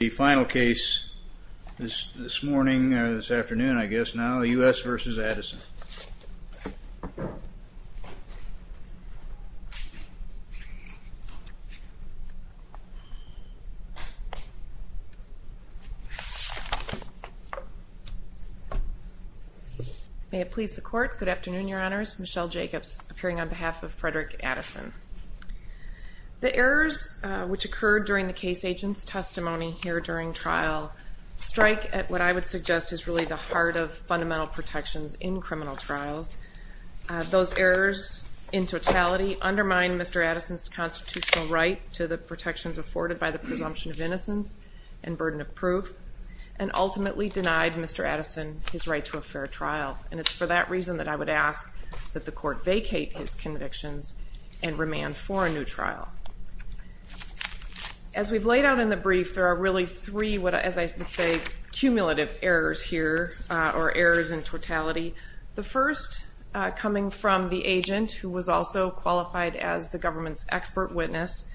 The final case this morning, this afternoon, I guess now, U.S. v. Addison. May it please the court, good afternoon, your honors. Michelle Jacobs, appearing on behalf of Frederick Addison. The errors which occurred during the case agent's testimony here during trial strike at what I would suggest is really the heart of fundamental protections in criminal trials. Those errors, in totality, undermine Mr. Addison's constitutional right to the protections afforded by the presumption of innocence and burden of proof, and ultimately denied Mr. Addison his right to a fair trial. And it's for that reason that I would ask that the court vacate his convictions and remand for a new trial. As we've laid out in the brief, there are really three, as I would say, cumulative errors here, or errors in totality. The first coming from the agent, who was also qualified as the government's expert witness,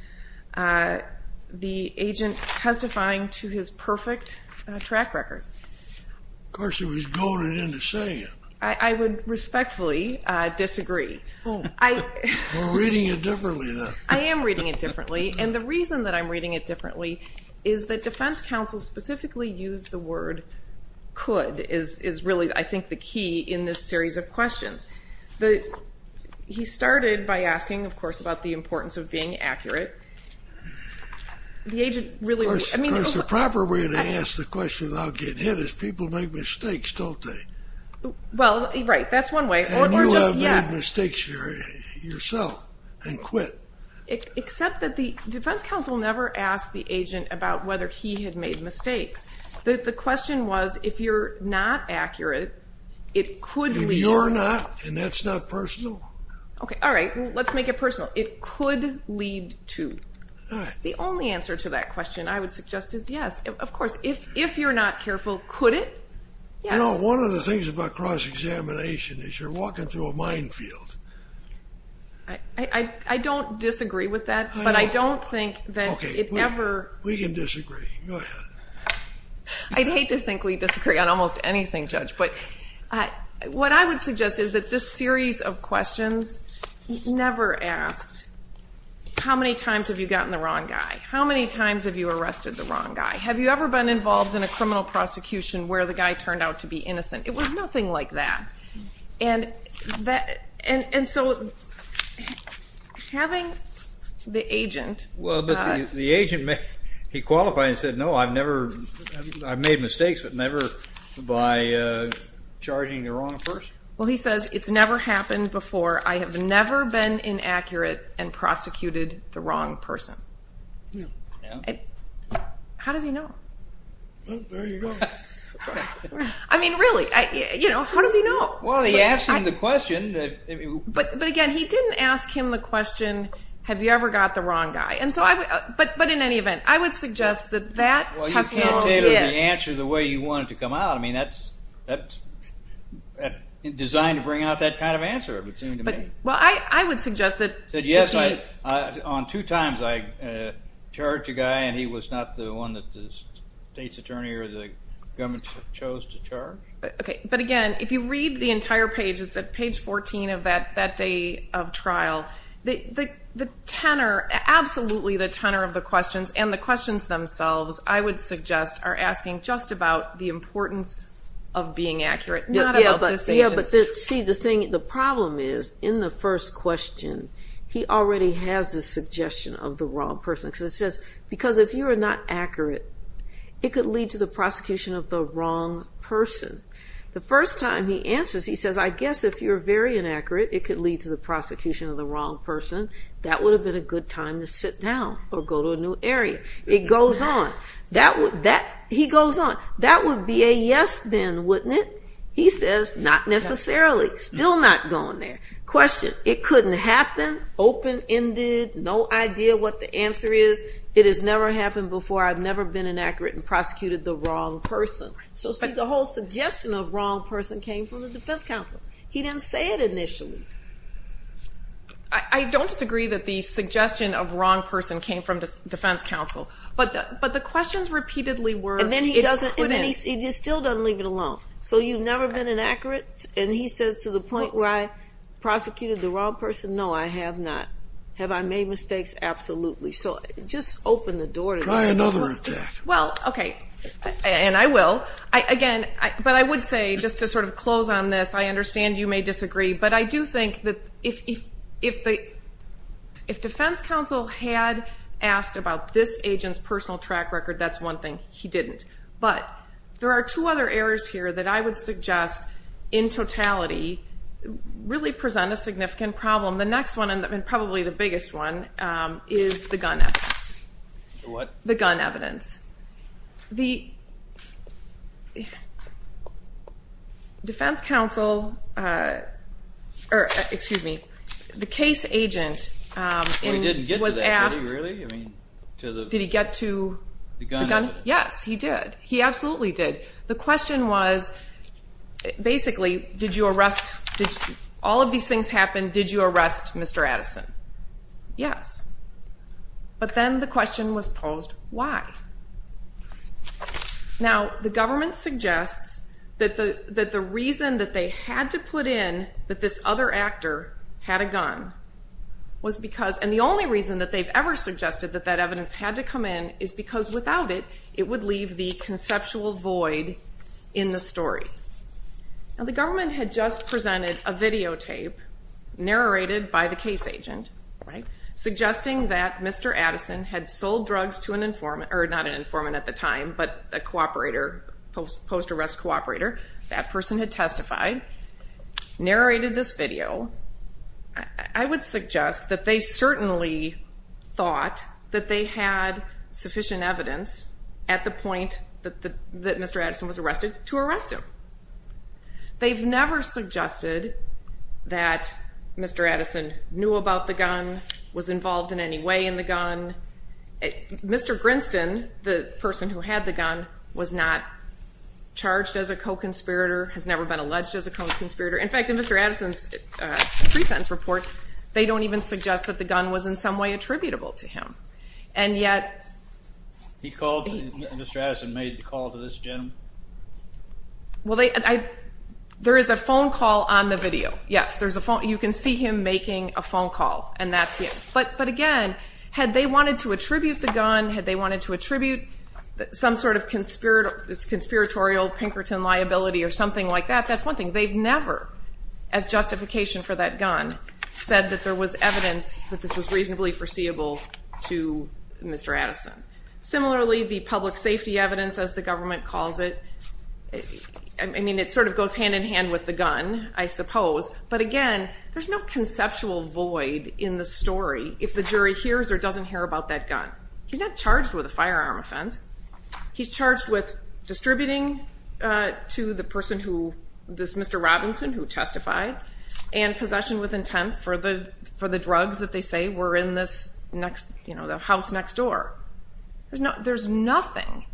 the agent testifying to his perfect track record. Of course, he was goaded into saying it. I would respectfully disagree. We're reading it differently, then. I am reading it differently, and the reason that I'm reading it differently is that defense counsel specifically used the word could, is really, I think, the key in this series of questions. He started by asking, of course, about the importance of being accurate. The agent really, I mean... Of course, the proper way to ask the question without getting hit is people make mistakes, don't they? Well, right, that's one way, or just yes. And you have made mistakes yourself, and quit. Except that the defense counsel never asked the agent about whether he had made mistakes. The question was, if you're not accurate, it could lead... If you're not, and that's not personal? Okay, all right, let's make it personal. It could lead to... All right. The only answer to that question, I would suggest, is yes. Of course, if you're not careful, could it? Yes. You know, one of the things about cross-examination is you're walking through a minefield. I don't disagree with that, but I don't think that it ever... Okay, we can disagree. Go ahead. I'd hate to think we disagree on almost anything, Judge. What I would suggest is that this series of questions never asked, how many times have you gotten the wrong guy? How many times have you arrested the wrong guy? Have you ever been involved in a criminal prosecution where the guy turned out to be innocent? It was nothing like that. And so having the agent... Well, he says, it's never happened before. I have never been inaccurate and prosecuted the wrong person. How does he know? There you go. I mean, really, how does he know? Well, he asked him the question. But again, he didn't ask him the question, have you ever got the wrong guy? But in any event, I would suggest that that... I can't tell you the answer the way you want it to come out. I mean, that's designed to bring out that kind of answer, it would seem to me. Well, I would suggest that... Yes, on two times I charged a guy, and he was not the one that the state's attorney or the government chose to charge. Okay, but again, if you read the entire page, it's at page 14 of that day of trial, the tenor, absolutely the tenor of the questions and the questions themselves, I would suggest are asking just about the importance of being accurate, not about this agent. Yes, but see, the problem is, in the first question, he already has this suggestion of the wrong person, because it says, because if you are not accurate, it could lead to the prosecution of the wrong person. The first time he answers, he says, I guess if you're very inaccurate, it could lead to the prosecution of the wrong person, that would have been a good time to sit down or go to a new area. It goes on. He goes on. That would be a yes, then, wouldn't it? He says, not necessarily, still not going there. Question, it couldn't happen, open-ended, no idea what the answer is. It has never happened before. I've never been inaccurate and prosecuted the wrong person. So see, the whole suggestion of wrong person came from the defense counsel. He didn't say it initially. I don't disagree that the suggestion of wrong person came from defense counsel. But the questions repeatedly were, it couldn't. And then he still doesn't leave it alone. So you've never been inaccurate? And he says, to the point where I prosecuted the wrong person, no, I have not. Have I made mistakes? Absolutely. So just open the door to that. Try another attack. Well, okay, and I will. Again, but I would say, just to sort of close on this, I understand you may disagree, but I do think that if defense counsel had asked about this agent's personal track record, that's one thing. He didn't. But there are two other errors here that I would suggest, in totality, really present a significant problem. The next one, and probably the biggest one, is the gun evidence. The what? The gun evidence. The defense counsel, or excuse me, the case agent was asked. Well, he didn't get to that, did he, really? Did he get to the gun? Yes, he did. He absolutely did. The question was, basically, did you arrest, all of these things happened, did you arrest Mr. Addison? Yes. But then the question was posed, why? Now, the government suggests that the reason that they had to put in that this other actor had a gun was because, and the only reason that they've ever suggested that that evidence had to come in is because without it, it would leave the conceptual void in the story. Now, the government had just presented a videotape narrated by the case agent, right, suggesting that Mr. Addison had sold drugs to an informant, or not an informant at the time, but a cooperator, post-arrest cooperator. That person had testified, narrated this video. I would suggest that they certainly thought that they had sufficient evidence, at the point that Mr. Addison was arrested, to arrest him. They've never suggested that Mr. Addison knew about the gun, was involved in any way in the gun. Mr. Grinston, the person who had the gun, was not charged as a co-conspirator, has never been alleged as a co-conspirator. In fact, in Mr. Addison's pre-sentence report, they don't even suggest that the gun was in some way attributable to him. And yet... He called Mr. Addison, made the call to this gentleman? Well, there is a phone call on the video, yes. You can see him making a phone call, and that's it. But again, had they wanted to attribute the gun, had they wanted to attribute some sort of conspiratorial Pinkerton liability or something like that, that's one thing. They've never, as justification for that gun, said that there was evidence that this was reasonably foreseeable to Mr. Addison. Similarly, the public safety evidence, as the government calls it, I mean, it sort of goes hand-in-hand with the gun, I suppose. But again, there's no conceptual void in the story if the jury hears or doesn't hear about that gun. He's not charged with a firearm offense. He's charged with distributing to the person who, this Mr. Robinson who testified, and possession with intent for the drugs that they say were in the house next door. There's nothing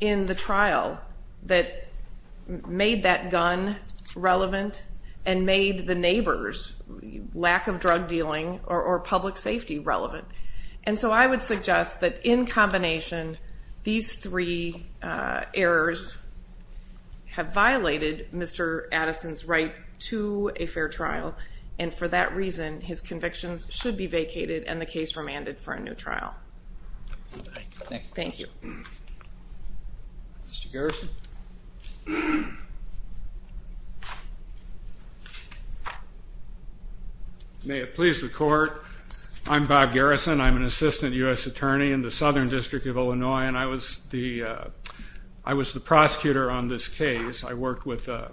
in the trial that made that gun relevant and made the neighbor's lack of drug dealing or public safety relevant. And so I would suggest that in combination, these three errors have violated Mr. Addison's right to a fair trial, and for that reason his convictions should be vacated and the case remanded for a new trial. Thank you. Mr. Garrison. May it please the court, I'm Bob Garrison. I'm an assistant U.S. attorney in the Southern District of Illinois, and I was the prosecutor on this case. I worked with a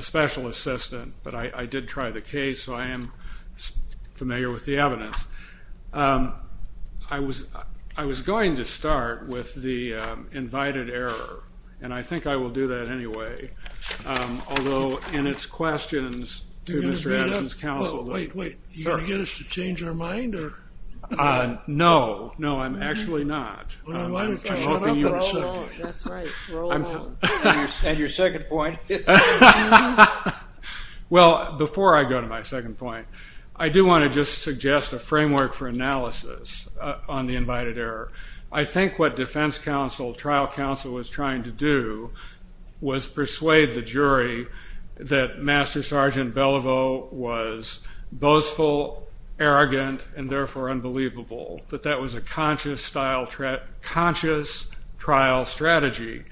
special assistant, but I did try the case, so I am familiar with the evidence. I was going to start with the invited error, and I think I will do that anyway, although in its questions to Mr. Addison's counsel. Wait, wait, are you going to get us to change our mind? No, no, I'm actually not. Why don't you shut up and roll on? That's right, roll on. And your second point? Well, before I go to my second point, I do want to just suggest a framework for analysis on the invited error. I think what defense counsel, trial counsel was trying to do was persuade the jury that Master Sergeant Beliveau was boastful, arrogant, and therefore unbelievable, that that was a conscious trial strategy.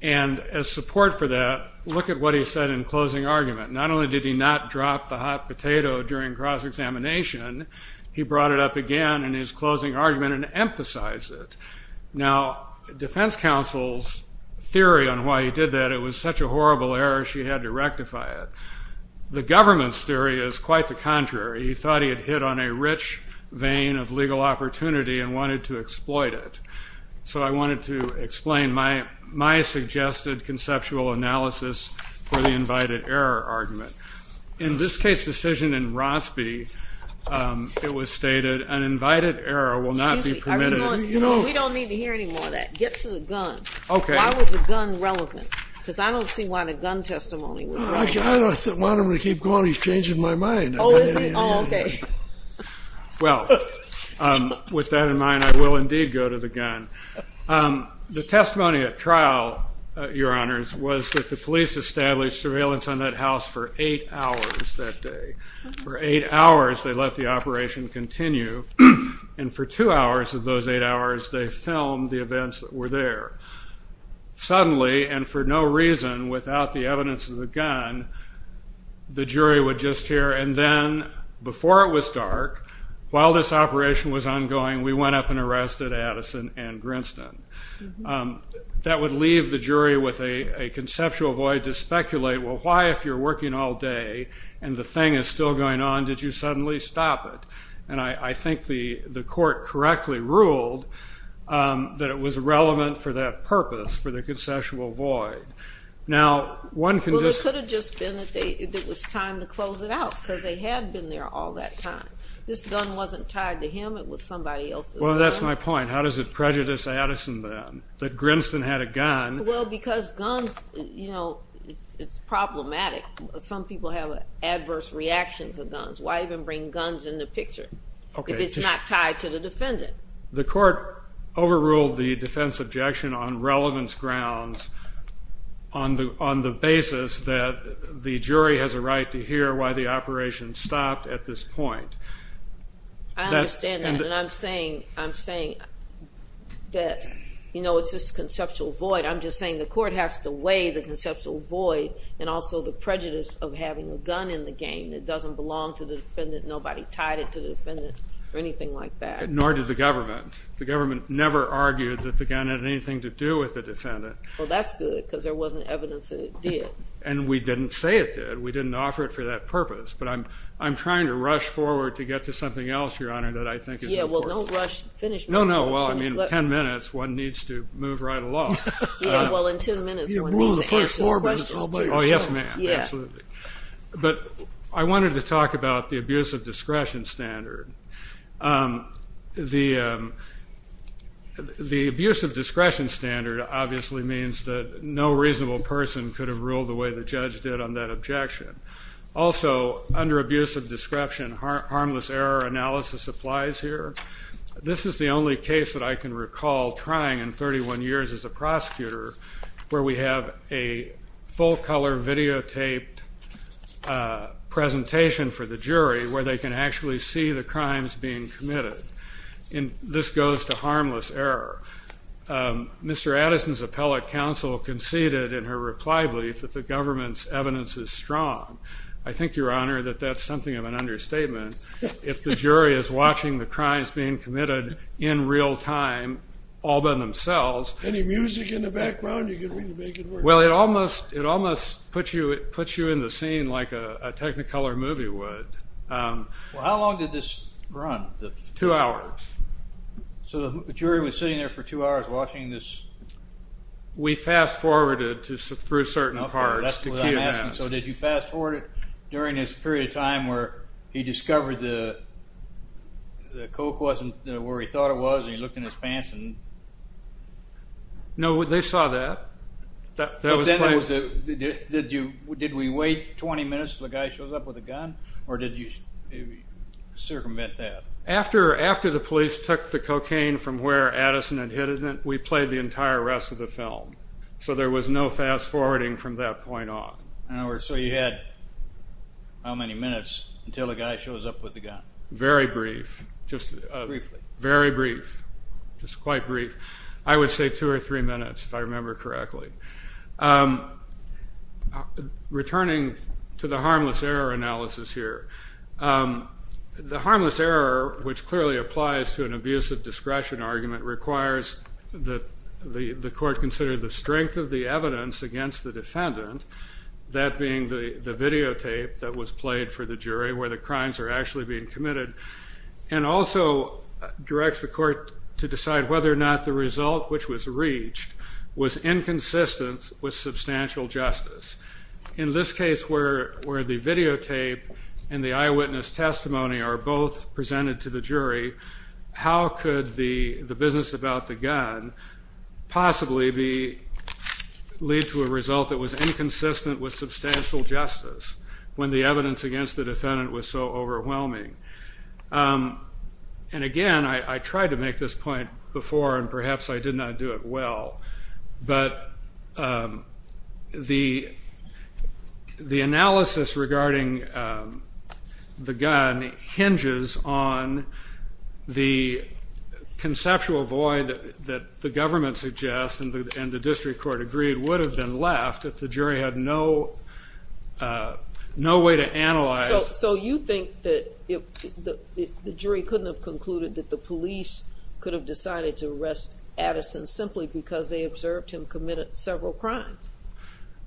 And as support for that, look at what he said in closing argument. Not only did he not drop the hot potato during cross-examination, he brought it up again in his closing argument and emphasized it. Now, defense counsel's theory on why he did that, it was such a horrible error, she had to rectify it. The government's theory is quite the contrary. He thought he had hit on a rich vein of legal opportunity and wanted to exploit it. So I wanted to explain my suggested conceptual analysis for the invited error argument. In this case decision in Rossby, it was stated, an invited error will not be permitted. We don't need to hear any more of that. Get to the gun. Why was the gun relevant? Because I don't see why the gun testimony was relevant. Why don't we keep going? He's changing my mind. Oh, is he? Oh, okay. Well, with that in mind, I will indeed go to the gun. The testimony at trial, Your Honors, was that the police established surveillance on that house for eight hours that day. For eight hours they let the operation continue, and for two hours of those eight hours they filmed the events that were there. Suddenly, and for no reason without the evidence of the gun, the jury would just hear, and then before it was dark, while this operation was ongoing, we went up and arrested Addison and Grinston. That would leave the jury with a conceptual void to speculate, well, why if you're working all day and the thing is still going on, did you suddenly stop it? And I think the court correctly ruled that it was relevant for that purpose, for the conceptual void. Well, it could have just been that it was time to close it out because they had been there all that time. This gun wasn't tied to him. It was somebody else's gun. Well, that's my point. How does it prejudice Addison then that Grinston had a gun? Well, because guns, you know, it's problematic. Some people have adverse reactions to guns. Why even bring guns in the picture if it's not tied to the defendant? The court overruled the defense objection on relevance grounds on the basis that the jury has a right to hear why the operation stopped at this point. I understand that. And I'm saying that, you know, it's this conceptual void. I'm just saying the court has to weigh the conceptual void and also the prejudice of having a gun in the game that doesn't belong to the defendant, nobody tied it to the defendant, or anything like that. Nor did the government. The government never argued that the gun had anything to do with the defendant. Well, that's good because there wasn't evidence that it did. And we didn't say it did. We didn't offer it for that purpose. But I'm trying to rush forward to get to something else, Your Honor, that I think is important. Yeah, well, don't rush. Finish me. No, no. Well, I mean, in 10 minutes one needs to move right along. Yeah, well, in 10 minutes one needs to answer the questions. Oh, yes, ma'am. Absolutely. But I wanted to talk about the abuse of discretion standard. The abuse of discretion standard obviously means that no reasonable person could have ruled the way the judge did on that objection. Also, under abuse of description, harmless error analysis applies here. This is the only case that I can recall trying in 31 years as a prosecutor where we have a full-color videotaped presentation for the jury where they can actually see the crimes being committed. This goes to harmless error. Mr. Addison's appellate counsel conceded in her reply brief that the government's evidence is strong. I think, Your Honor, that that's something of an understatement. If the jury is watching the crimes being committed in real time all by themselves any music in the background you can make it work? Well, it almost puts you in the scene like a Technicolor movie would. How long did this run? Two hours. So the jury was sitting there for two hours watching this? We fast-forwarded through certain parts. Okay, that's what I'm asking. So did you fast-forward it during this period of time where he discovered the Coke wasn't where he thought it was and he looked in his pants? No, they saw that. Did we wait 20 minutes until the guy shows up with a gun or did you circumvent that? After the police took the cocaine from where Addison had hidden it, we played the entire rest of the film. So there was no fast-forwarding from that point on. So you had how many minutes until the guy shows up with a gun? Very brief. Briefly. Very brief, just quite brief. I would say two or three minutes if I remember correctly. Returning to the harmless error analysis here, the harmless error, which clearly applies to an abusive discretion argument, requires that the court consider the strength of the evidence against the defendant, that being the videotape that was played for the jury where the crimes are actually being committed, and also directs the court to decide whether or not the result, which was reached, was inconsistent with substantial justice. In this case where the videotape and the eyewitness testimony are both presented to the jury, how could the business about the gun possibly lead to a result that was inconsistent with substantial justice when the evidence against the defendant was so overwhelming? And again, I tried to make this point before, and perhaps I did not do it well, but the analysis regarding the gun hinges on the conceptual void that the government suggests and the district court agreed would have been left that the jury had no way to analyze. So you think that the jury couldn't have concluded that the police could have decided to arrest Addison simply because they observed him commit several crimes?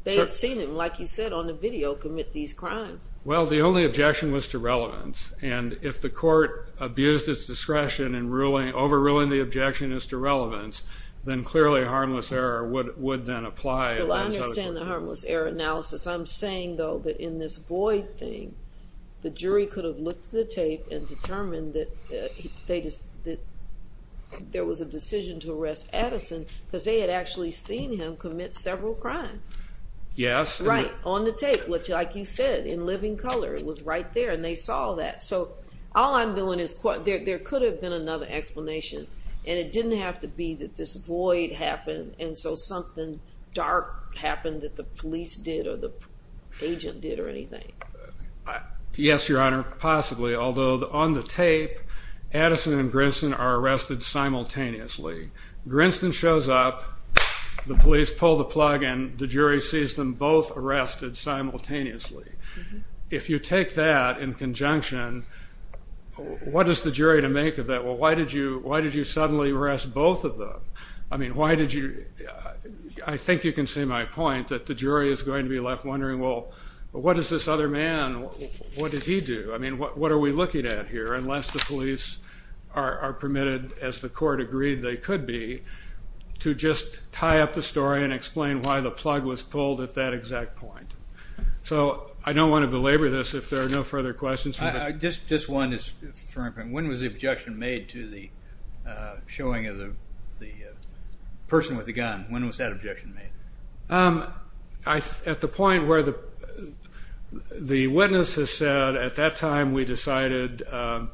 They had seen him, like you said, on the video commit these crimes. Well, the only objection was to relevance, and if the court abused its discretion and overruling the objection is to relevance, then clearly harmless error would then apply. Well, I understand the harmless error analysis. I'm saying, though, that in this void thing, the jury could have looked at the tape and determined that there was a decision to arrest Addison because they had actually seen him commit several crimes. Yes. Right, on the tape, like you said, in living color. It was right there, and they saw that. So all I'm doing is there could have been another explanation, and it didn't have to be that this void happened and so something dark happened that the police did or the agent did or anything. Yes, Your Honor, possibly, although on the tape, Addison and Grinston are arrested simultaneously. Grinston shows up, the police pull the plug, and the jury sees them both arrested simultaneously. If you take that in conjunction, what is the jury to make of that? Well, why did you suddenly arrest both of them? I mean, why did you? I think you can see my point that the jury is going to be left wondering, well, what does this other man, what did he do? I mean, what are we looking at here unless the police are permitted, as the court agreed they could be, to just tie up the story and explain why the plug was pulled at that exact point. So I don't want to belabor this if there are no further questions. Just one, when was the objection made to the showing of the person with the gun? When was that objection made? At the point where the witness has said, at that time we decided to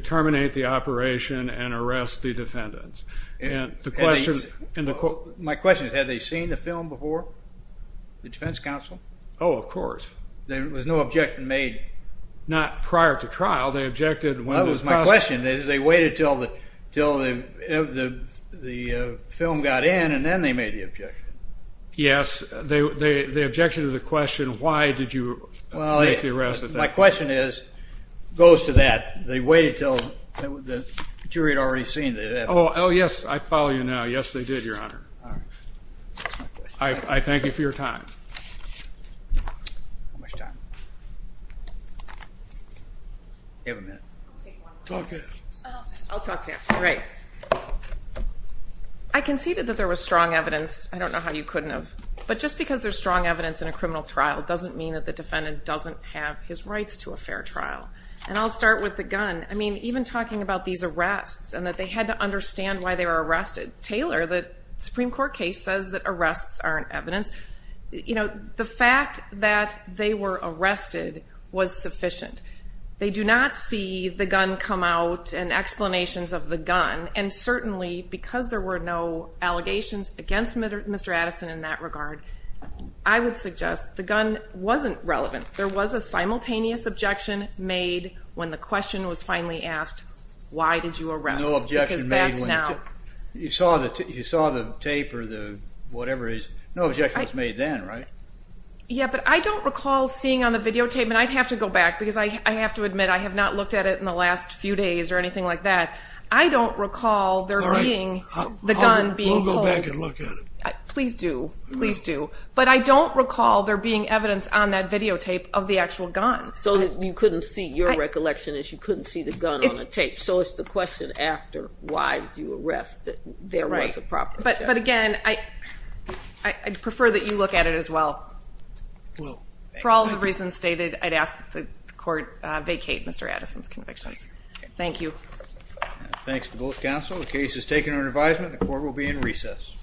terminate the operation and arrest the defendants. My question is, had they seen the film before, the defense counsel? Oh, of course. There was no objection made? Not prior to trial. Well, that was my question. They waited until the film got in, and then they made the objection. Yes. The objection to the question, why did you make the arrest at that point? Well, my question goes to that. They waited until the jury had already seen it. Oh, yes. I follow you now. Yes, they did, Your Honor. I thank you for your time. How much time? You have a minute. I'll take one more. Talk to us. I'll talk to you. Great. I conceded that there was strong evidence. I don't know how you couldn't have. But just because there's strong evidence in a criminal trial doesn't mean that the defendant doesn't have his rights to a fair trial. And I'll start with the gun. I mean, even talking about these arrests and that they had to understand why they were arrested, Taylor, the Supreme Court case says that arrests aren't evidence. You know, the fact that they were arrested was sufficient. They do not see the gun come out and explanations of the gun, and certainly because there were no allegations against Mr. Addison in that regard, I would suggest the gun wasn't relevant. There was a simultaneous objection made when the question was finally asked, why did you arrest? You saw the tape or whatever it is. No objection was made then, right? Yeah, but I don't recall seeing on the videotape, and I'd have to go back, because I have to admit I have not looked at it in the last few days or anything like that. I don't recall there being the gun being pulled. We'll go back and look at it. Please do. Please do. But I don't recall there being evidence on that videotape of the actual gun. Your recollection is you couldn't see the gun on the tape. So it's the question after, why did you arrest, that there was a problem. But again, I'd prefer that you look at it as well. For all the reasons stated, I'd ask that the court vacate Mr. Addison's convictions. Thank you. Thanks to both counsel. The case is taken under advisement. The court will be in recess.